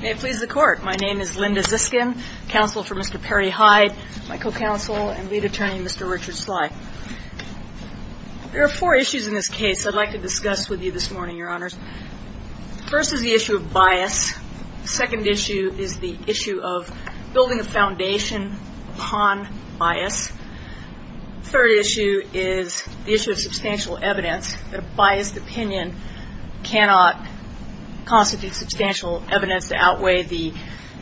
May it please the Court, my name is Linda Ziskin, counsel for Mr. Perry Hyde, my co-counsel and lead attorney, Mr. Richard Slye. There are four issues in this case I'd like to discuss with you this morning, Your Honors. First is the issue of bias. Second issue is the issue of building a foundation upon bias. Third issue is the issue of substantial evidence. A biased opinion cannot constitute substantial evidence to outweigh the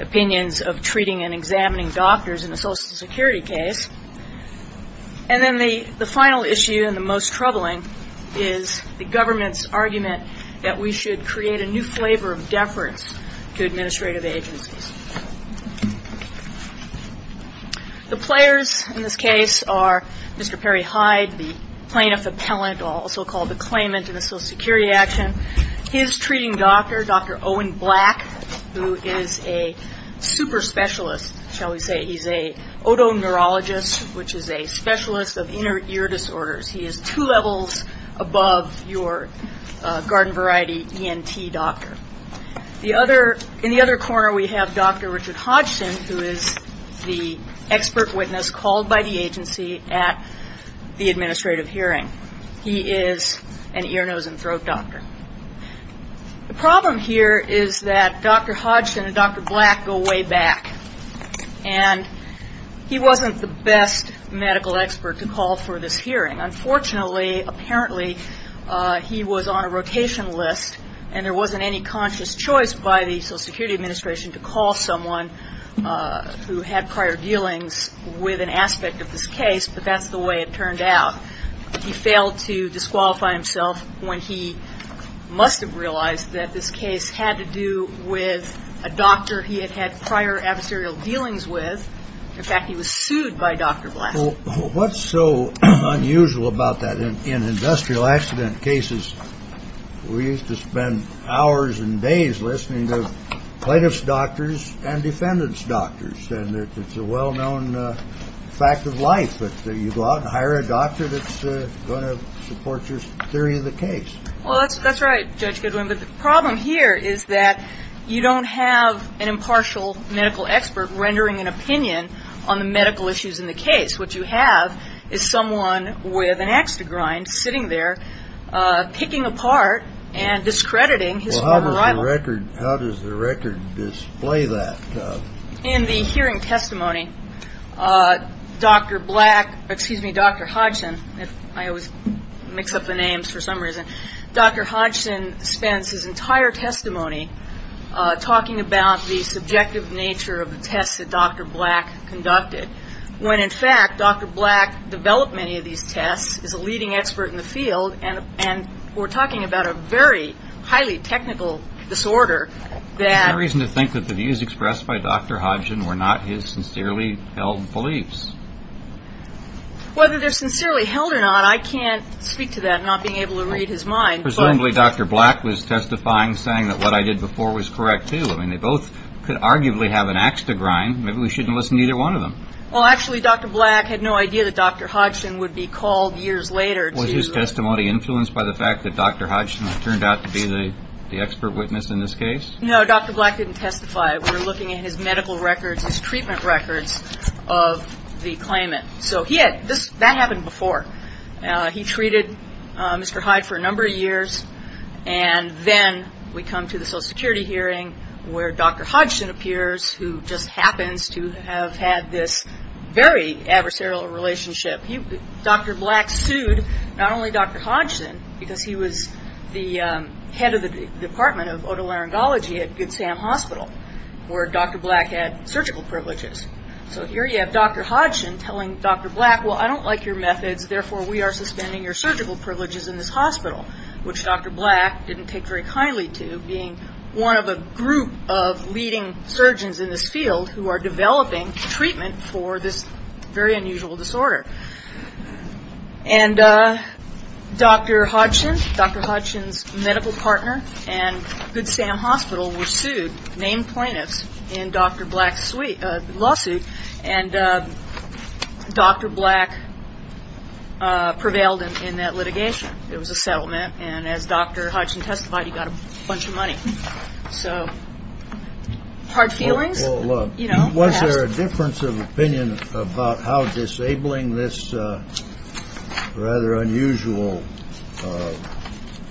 opinions of treating and examining doctors in a Social Security case. And then the final issue and the most troubling is the government's argument that we should create a new flavor of deference to administrative agencies. The players in this case are Mr. Perry Hyde, the plaintiff appellant, also called the claimant in the Social Security action. His treating doctor, Dr. Owen Black, who is a super specialist, shall we say. He's an otoneurologist, which is a specialist of inner ear disorders. He is two levels above your garden variety ENT doctor. In the other corner we have Dr. Richard Hodgson, who is the expert witness called by the agency at the administrative hearing. He is an ear, nose, and throat doctor. The problem here is that Dr. Hodgson and Dr. Black go way back, and he wasn't the best medical expert to call for this hearing. Unfortunately, apparently, he was on a rotation list, and there wasn't any conscious choice by the Social Security Administration to call someone who had prior dealings with an aspect of this case. But that's the way it turned out. He failed to disqualify himself when he must have realized that this case had to do with a doctor he had had prior adversarial dealings with. In fact, he was sued by Dr. Black. Well, what's so unusual about that? In industrial accident cases, we used to spend hours and days listening to plaintiff's doctors and defendant's doctors. And it's a well-known fact of life that you go out and hire a doctor that's going to support your theory of the case. Well, that's right, Judge Goodwin. But the problem here is that you don't have an impartial medical expert rendering an opinion on the medical issues in the case. What you have is someone with an axe to grind sitting there, picking apart and discrediting his former rival. Well, how does the record display that? In the hearing testimony, Dr. Black, excuse me, Dr. Hodgson, I always mix up the names for some reason. Dr. Hodgson spends his entire testimony talking about the subjective nature of the tests that Dr. Black conducted. When, in fact, Dr. Black developed many of these tests, is a leading expert in the field, and we're talking about a very highly technical disorder that. There's no reason to think that the views expressed by Dr. Hodgson were not his sincerely held beliefs. Whether they're sincerely held or not, I can't speak to that, not being able to read his mind. Presumably, Dr. Black was testifying, saying that what I did before was correct, too. I mean, they both could arguably have an axe to grind. Maybe we shouldn't listen to either one of them. Well, actually, Dr. Black had no idea that Dr. Hodgson would be called years later to. Was his testimony influenced by the fact that Dr. Hodgson turned out to be the expert witness in this case? No, Dr. Black didn't testify. We're looking at his medical records, his treatment records of the claimant. So that happened before. He treated Mr. Hyde for a number of years, and then we come to the Social Security hearing where Dr. Hodgson appears, who just happens to have had this very adversarial relationship. Dr. Black sued not only Dr. Hodgson, because he was the head of the Department of Otolaryngology at Good Sam Hospital, where Dr. Black had surgical privileges. So here you have Dr. Hodgson telling Dr. Black, well, I don't like your methods, therefore we are suspending your surgical privileges in this hospital, which Dr. Black didn't take very kindly to, being one of a group of leading surgeons in this field who are developing treatment for this very unusual disorder. And Dr. Hodgson, Dr. Hodgson's medical partner, and Good Sam Hospital were sued, named plaintiffs, in Dr. Black's lawsuit, and Dr. Black prevailed in that litigation. It was a settlement, and as Dr. Hodgson testified, he got a bunch of money. So hard feelings? Well, look, was there a difference of opinion about how disabling this rather unusual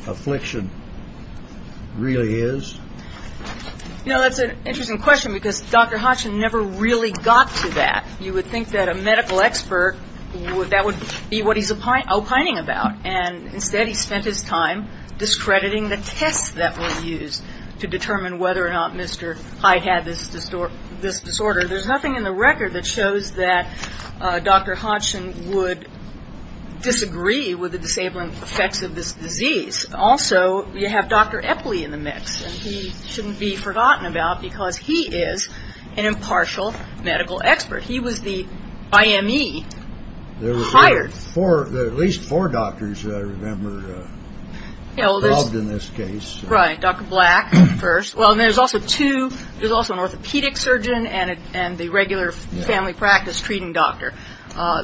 affliction really is? You know, that's an interesting question, because Dr. Hodgson never really got to that. You would think that a medical expert, that would be what he's opining about, and instead he spent his time discrediting the tests that were used to determine whether or not Mr. Hyde had this disorder. There's nothing in the record that shows that Dr. Hodgson would disagree with the disabling effects of this disease. Also, you have Dr. Epley in the mix, and he shouldn't be forgotten about, because he is an impartial medical expert. He was the IME hired. There are at least four doctors that I remember involved in this case. Right. Dr. Black first. Well, there's also two. There's also an orthopedic surgeon and the regular family practice treating doctor,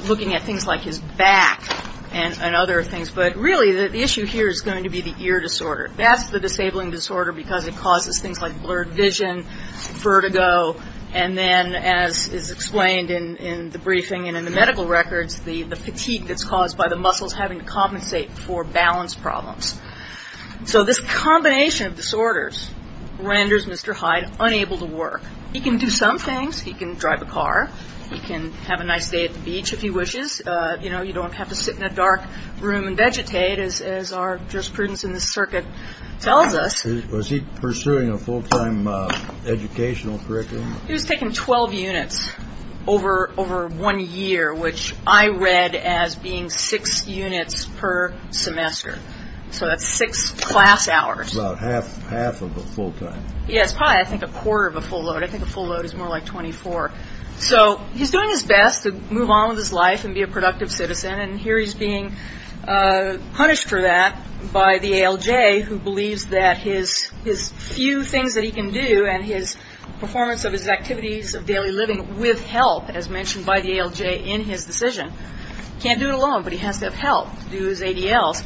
looking at things like his back and other things. But really, the issue here is going to be the ear disorder. That's the disabling disorder, because it causes things like blurred vision, vertigo, and then, as is explained in the briefing and in the medical records, the fatigue that's caused by the muscles having to compensate for balance problems. So this combination of disorders renders Mr. Hyde unable to work. He can do some things. He can drive a car. He can have a nice day at the beach, if he wishes. You know, you don't have to sit in a dark room and vegetate, as our jurisprudence in this circuit tells us. Was he pursuing a full-time educational curriculum? He was taking 12 units over one year, which I read as being six units per semester. So that's six class hours. About half of a full time. Yeah, it's probably, I think, a quarter of a full load. I think a full load is more like 24. So he's doing his best to move on with his life and be a productive citizen, and here he's being punished for that by the ALJ, who believes that his few things that he can do and his performance of his activities of daily living with help, as mentioned by the ALJ in his decision. He can't do it alone, but he has to have help to do his ADLs.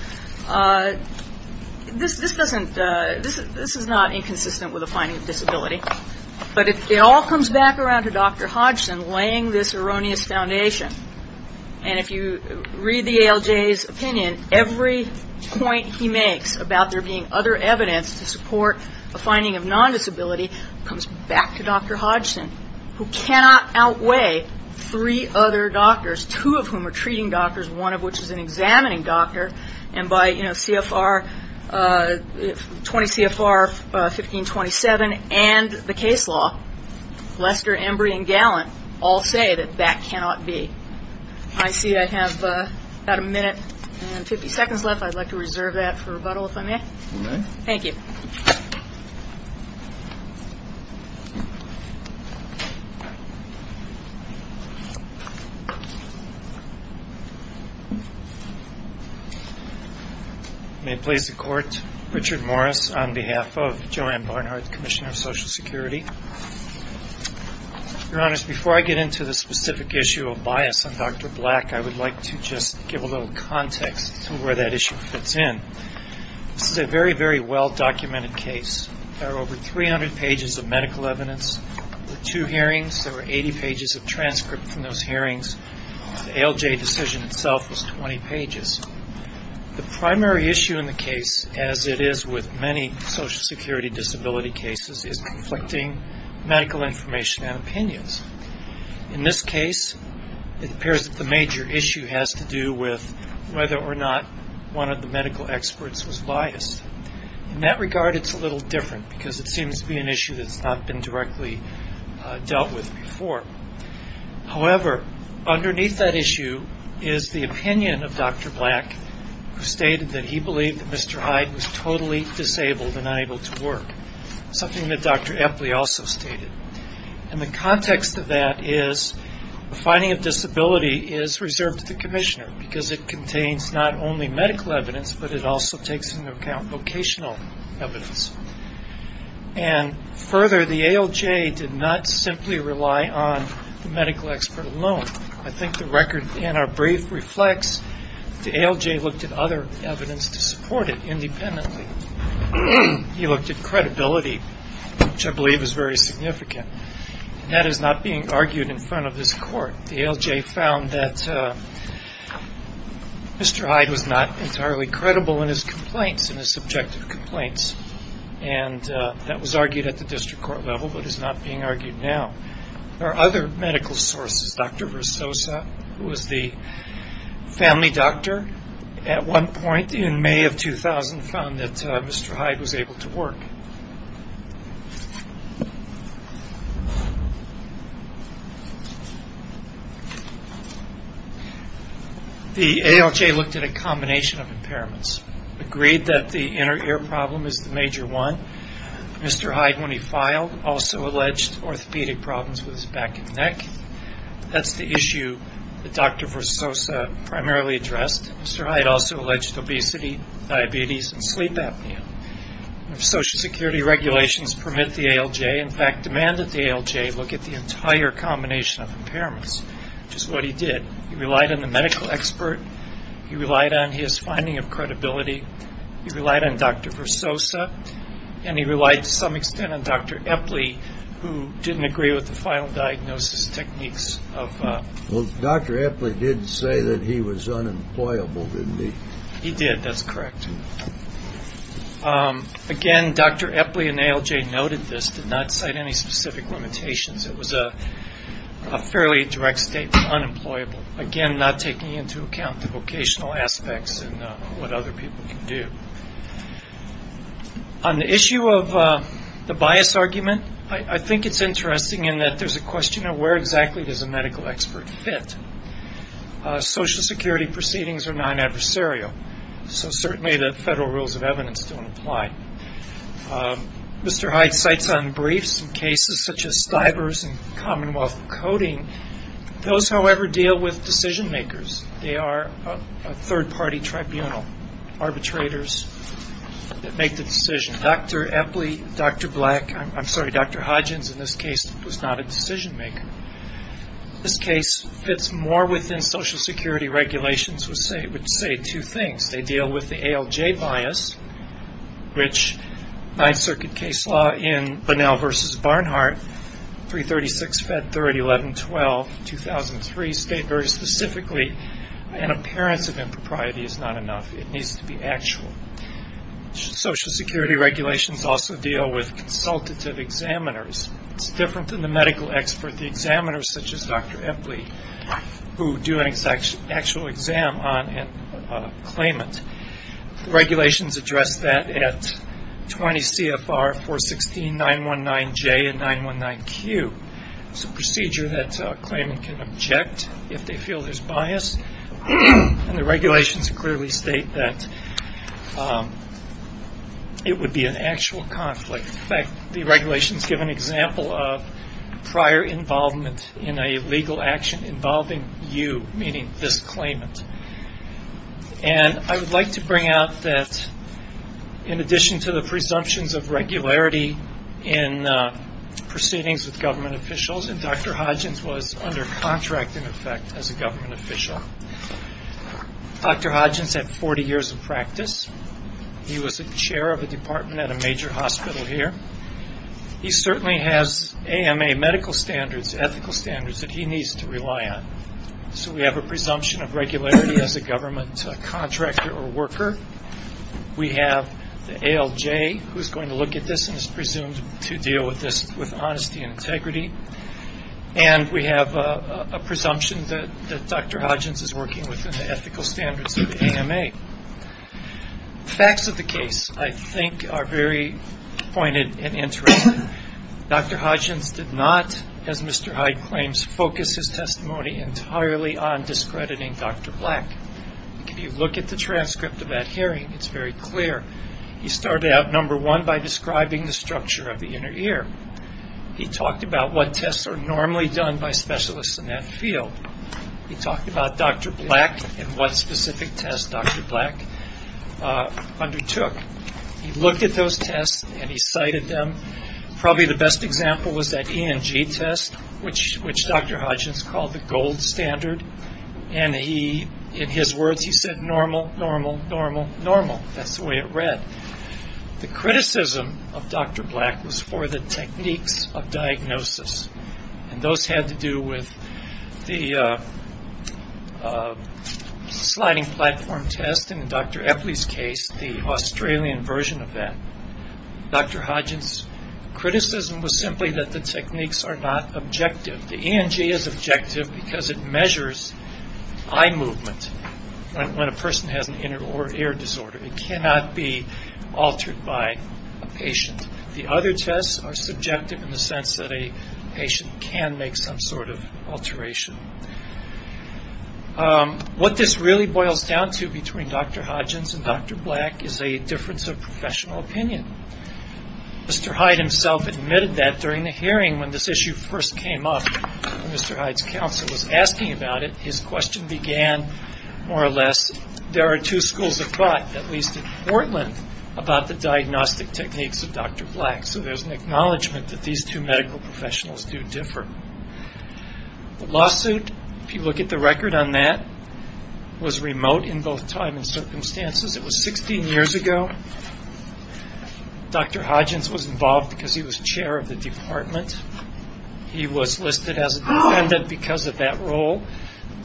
This is not inconsistent with a finding of disability, but it all comes back around to Dr. Hodgson laying this erroneous foundation. And if you read the ALJ's opinion, every point he makes about there being other evidence to support a finding of non-disability comes back to Dr. Hodgson, who cannot outweigh three other doctors, two of whom are treating doctors, one of which is an examining doctor, and by CFR, 20 CFR 1527 and the case law, Lester, Embry, and Gallant all say that that cannot be. I see I have about a minute and 50 seconds left. I'd like to reserve that for rebuttal, if I may. Thank you. May it please the Court, Richard Morris on behalf of Joanne Barnhart, Commissioner of Social Security. Your Honors, before I get into the specific issue of bias on Dr. Black, I would like to just give a little context to where that issue fits in. This is a very, very well-documented case. There are over 300 pages of medical evidence. There were two hearings. There were 80 pages of transcript from those hearings. The ALJ decision itself was 20 pages. The primary issue in the case, as it is with many social security disability cases, is conflicting medical information and opinions. In this case, it appears that the major issue has to do with whether or not one of the medical experts was biased. In that regard, it's a little different, because it seems to be an issue that's not been directly dealt with before. However, underneath that issue is the opinion of Dr. Black, who stated that he believed that Mr. Hyde was totally disabled and unable to work, something that Dr. Epley also stated. And the context of that is the finding of disability is reserved to the commissioner, because it contains not only medical evidence, but it also takes into account vocational evidence. And further, the ALJ did not simply rely on the medical expert alone. I think the record in our brief reflects the ALJ looked at other evidence to support it independently. He looked at credibility, which I believe is very significant. That is not being argued in front of this court. The ALJ found that Mr. Hyde was not entirely credible in his complaints, in his subjective complaints, and that was argued at the district court level, but is not being argued now. There are other medical sources. Dr. Versosa, who was the family doctor at one point in May of 2000, found that Mr. Hyde was able to work. The ALJ looked at a combination of impairments, agreed that the inner ear problem is the major one. Mr. Hyde, when he filed, also alleged orthopedic problems with his back and neck. That's the issue that Dr. Versosa primarily addressed. Mr. Hyde also alleged obesity, diabetes, and sleep apnea. Social Security regulations permit the ALJ, in fact, demand that the ALJ look at the entire combination of impairments, which is what he did. He relied on the medical expert. He relied on his finding of credibility. He relied on Dr. Versosa, and he relied to some extent on Dr. Epley, who didn't agree with the final diagnosis techniques. Well, Dr. Epley did say that he was unemployable, didn't he? He did. That's correct. Again, Dr. Epley and ALJ noted this, did not cite any specific limitations. It was a fairly direct statement, unemployable. Again, not taking into account the vocational aspects and what other people can do. On the issue of the bias argument, I think it's interesting in that there's a question of where exactly does a medical expert fit. Social Security proceedings are non-adversarial. So certainly the federal rules of evidence don't apply. Mr. Hyde cites on briefs in cases such as Stivers and Commonwealth of Coding. Those, however, deal with decision-makers. They are a third-party tribunal, arbitrators that make the decision. Dr. Epley, Dr. Black, I'm sorry, Dr. Hodgins in this case was not a decision-maker. This case fits more within Social Security regulations, which say two things. They deal with the ALJ bias, which Ninth Circuit case law in Bunnell v. Barnhart, 336-Fed 3011-12-2003 state very specifically an appearance of impropriety is not enough. It needs to be actual. Social Security regulations also deal with consultative examiners. It's different than the medical expert, the examiners such as Dr. Epley, who do an actual exam on a claimant. The regulations address that at 20 CFR 416-919-J and 919-Q. It's a procedure that a claimant can object if they feel there's bias, and the regulations clearly state that it would be an actual conflict. In fact, the regulations give an example of prior involvement in a legal action involving you, meaning this claimant. And I would like to bring out that in addition to the presumptions of regularity in proceedings with government officials, and Dr. Hodgins was under contract, in effect, as a government official. Dr. Hodgins had 40 years of practice. He was a chair of a department at a major hospital here. He certainly has AMA medical standards, ethical standards, that he needs to rely on. So we have a presumption of regularity as a government contractor or worker. We have the ALJ, who's going to look at this and is presumed to deal with this with honesty and integrity. And we have a presumption that Dr. Hodgins is working within the ethical standards of the AMA. The facts of the case, I think, are very pointed and interesting. Dr. Hodgins did not, as Mr. Hyde claims, focus his testimony entirely on discrediting Dr. Black. If you look at the transcript of that hearing, it's very clear. He started out, number one, by describing the structure of the inner ear. He talked about what tests are normally done by specialists in that field. He talked about Dr. Black and what specific tests Dr. Black undertook. He looked at those tests and he cited them. Probably the best example was that ENG test, which Dr. Hodgins called the gold standard. And in his words, he said, normal, normal, normal, normal. That's the way it read. The criticism of Dr. Black was for the techniques of diagnosis. And those had to do with the sliding platform test, and in Dr. Epley's case, the Australian version of that. Dr. Hodgins' criticism was simply that the techniques are not objective. The ENG is objective because it measures eye movement when a person has an inner ear disorder. It cannot be altered by a patient. The other tests are subjective in the sense that a patient can make some sort of alteration. What this really boils down to between Dr. Hodgins and Dr. Black is a difference of professional opinion. Mr. Hyde himself admitted that during the hearing when this issue first came up, when Mr. Hyde's counsel was asking about it, his question began, more or less, there are two schools of thought, at least in Portland, about the diagnostic techniques of Dr. Black. So there's an acknowledgment that these two medical professionals do differ. The lawsuit, if you look at the record on that, was remote in both time and circumstances. It was 16 years ago. Dr. Hodgins was involved because he was chair of the department. He was listed as a defendant because of that role.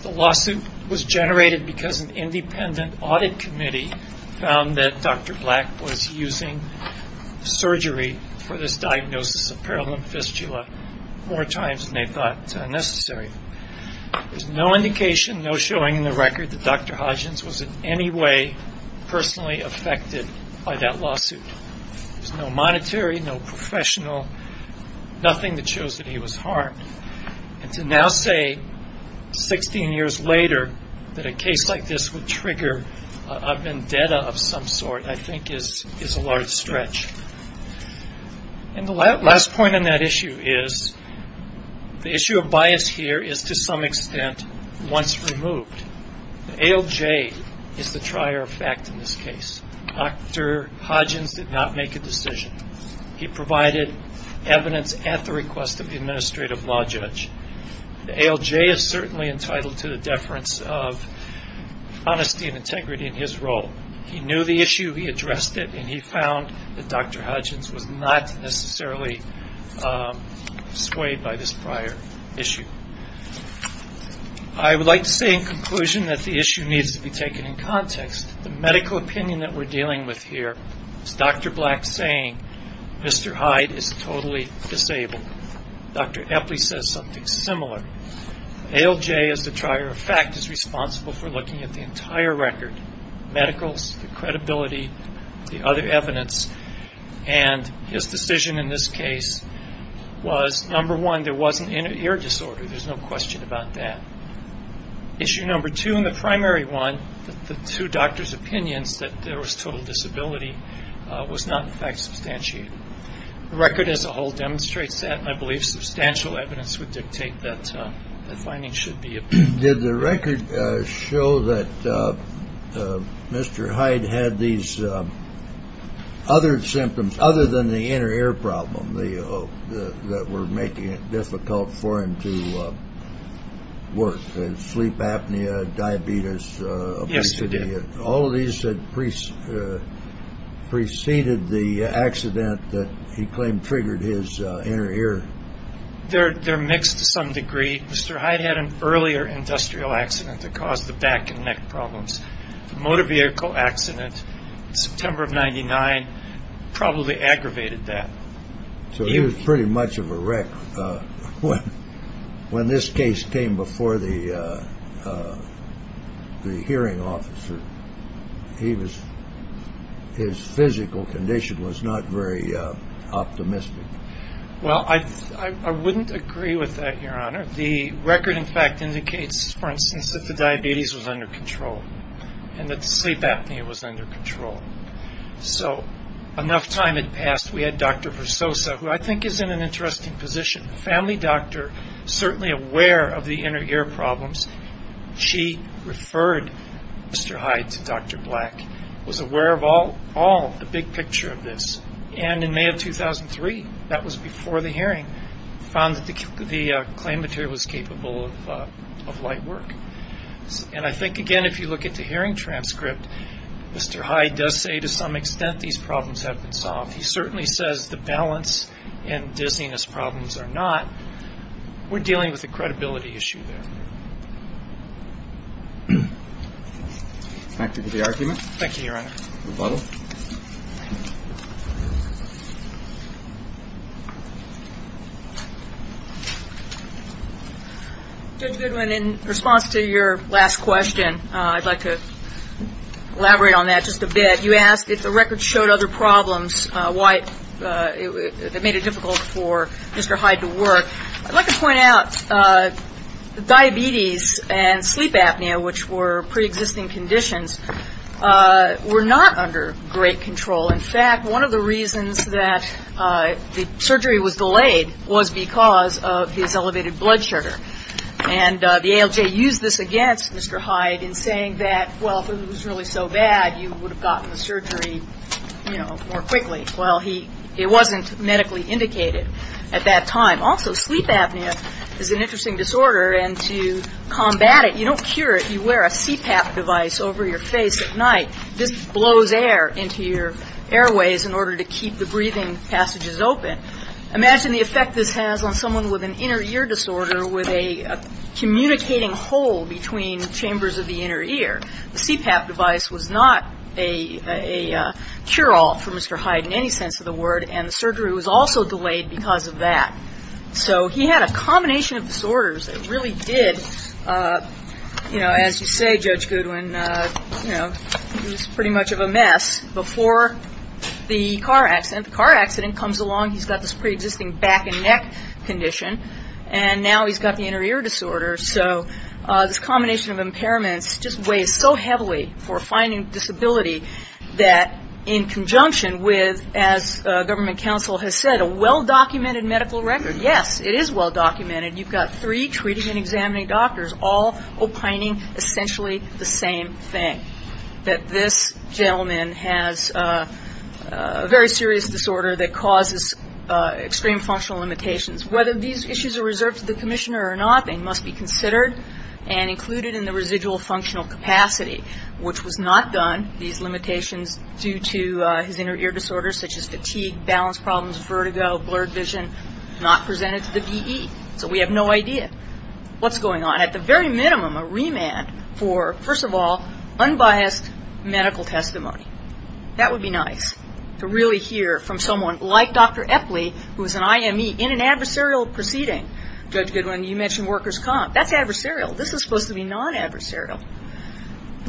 The lawsuit was generated because an independent audit committee found that Dr. Black was using surgery for this diagnosis of paralymphystula more times than they thought necessary. There's no indication, no showing in the record, that Dr. Hodgins was in any way personally affected by that lawsuit. There's no monetary, no professional, nothing that shows that he was harmed. And to now say 16 years later that a case like this would trigger a vendetta of some sort, I think, is a large stretch. And the last point on that issue is the issue of bias here is, to some extent, once removed. The ALJ is the trier of fact in this case. Dr. Hodgins did not make a decision. He provided evidence at the request of the administrative law judge. The ALJ is certainly entitled to the deference of honesty and integrity in his role. He knew the issue. He addressed it. And he found that Dr. Hodgins was not necessarily swayed by this prior issue. I would like to say in conclusion that the issue needs to be taken in context. The medical opinion that we're dealing with here is Dr. Black saying Mr. Hyde is totally disabled. Dr. Epley says something similar. ALJ is the trier of fact, is responsible for looking at the entire record, medicals, the credibility, the other evidence. And his decision in this case was, number one, there was an inner ear disorder. There's no question about that. Issue number two, and the primary one, the two doctors' opinions that there was total disability was not, in fact, substantiated. The record as a whole demonstrates that. I believe substantial evidence would dictate that the findings should be obtained. Did the record show that Mr. Hyde had these other symptoms other than the inner ear problem that were making it difficult for him to work? Sleep apnea, diabetes, obesity. Yes, they did. All of these had preceded the accident that he claimed triggered his inner ear. They're mixed to some degree. Mr. Hyde had an earlier industrial accident that caused the back and neck problems. Motor vehicle accident, September of 99, probably aggravated that. So he was pretty much of a wreck. When this case came before the hearing officer, his physical condition was not very optimistic. Well, I wouldn't agree with that, Your Honor. The record, in fact, indicates, for instance, that the diabetes was under control and that the sleep apnea was under control. So enough time had passed. We had Dr. Versosa, who I think is in an interesting position, a family doctor, certainly aware of the inner ear problems. She referred Mr. Hyde to Dr. Black, was aware of all the big picture of this. And in May of 2003, that was before the hearing, found that the claim material was capable of light work. And I think, again, if you look at the hearing transcript, Mr. Hyde does say to some extent these problems have been solved. He certainly says the balance and dizziness problems are not. We're dealing with a credibility issue there. Thank you, Your Honor. Rebuttal. Judge Goodwin, in response to your last question, I'd like to elaborate on that just a bit. You asked if the record showed other problems that made it difficult for Mr. Hyde to work. I'd like to point out diabetes and sleep apnea, which were preexisting conditions, were not under great control. In fact, one of the reasons that the surgery was delayed was because of his elevated blood sugar. And the ALJ used this against Mr. Hyde in saying that, well, if it was really so bad, you would have gotten the surgery, you know, more quickly. Well, it wasn't medically indicated at that time. Also, sleep apnea is an interesting disorder, and to combat it, you don't cure it. You wear a CPAP device over your face at night. This blows air into your airways in order to keep the breathing passages open. Imagine the effect this has on someone with an inner ear disorder with a communicating hole between chambers of the inner ear. The CPAP device was not a cure-all for Mr. Hyde in any sense of the word, and the surgery was also delayed because of that. So he had a combination of disorders that really did, you know, as you say, Judge Goodwin, you know, it was pretty much of a mess before the car accident. The car accident comes along, he's got this preexisting back and neck condition, and now he's got the inner ear disorder. So this combination of impairments just weighs so heavily for a finding disability that in conjunction with, as government counsel has said, a well-documented medical record. Yes, it is well-documented. You've got three treating and examining doctors all opining essentially the same thing, that this gentleman has a very serious disorder that causes extreme functional limitations. Whether these issues are reserved to the commissioner or not, they must be considered and included in the residual functional capacity, which was not done, these limitations due to his inner ear disorders such as fatigue, balance problems, vertigo, blurred vision, not presented to the DE. So we have no idea what's going on. At the very minimum, a remand for, first of all, unbiased medical testimony. That would be nice, to really hear from someone like Dr. Epley, who's an IME, in an adversarial proceeding. Judge Goodwin, you mentioned workers' comp. That's adversarial. This is supposed to be non-adversarial.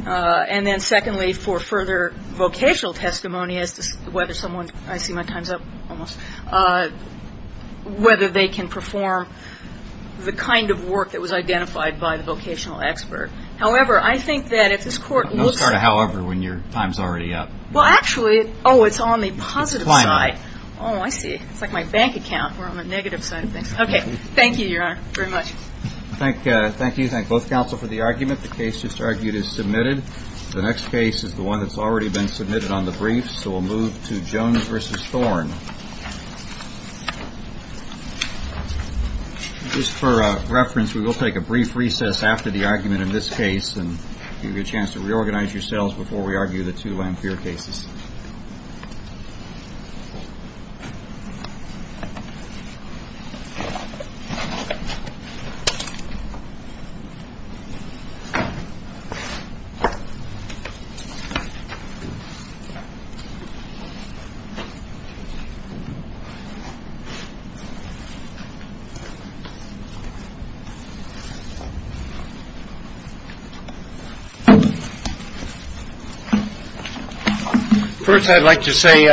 And then secondly, for further vocational testimony as to whether someone's, I see my time's up almost, whether they can perform the kind of work that was identified by the vocational expert. However, I think that if this court looks at. However, when your time's already up. Well, actually, oh, it's on the positive side. Oh, I see. It's like my bank account. We're on the negative side of things. Okay. Thank you, Your Honor, very much. Thank you. Thank both counsel for the argument. The case just argued is submitted. The next case is the one that's already been submitted on the briefs. So we'll move to Jones v. Thorne. Just for reference, we will take a brief recess after the argument in this case and give you a chance to reorganize yourselves before we argue the two Lamphere cases. First, I'd like to say.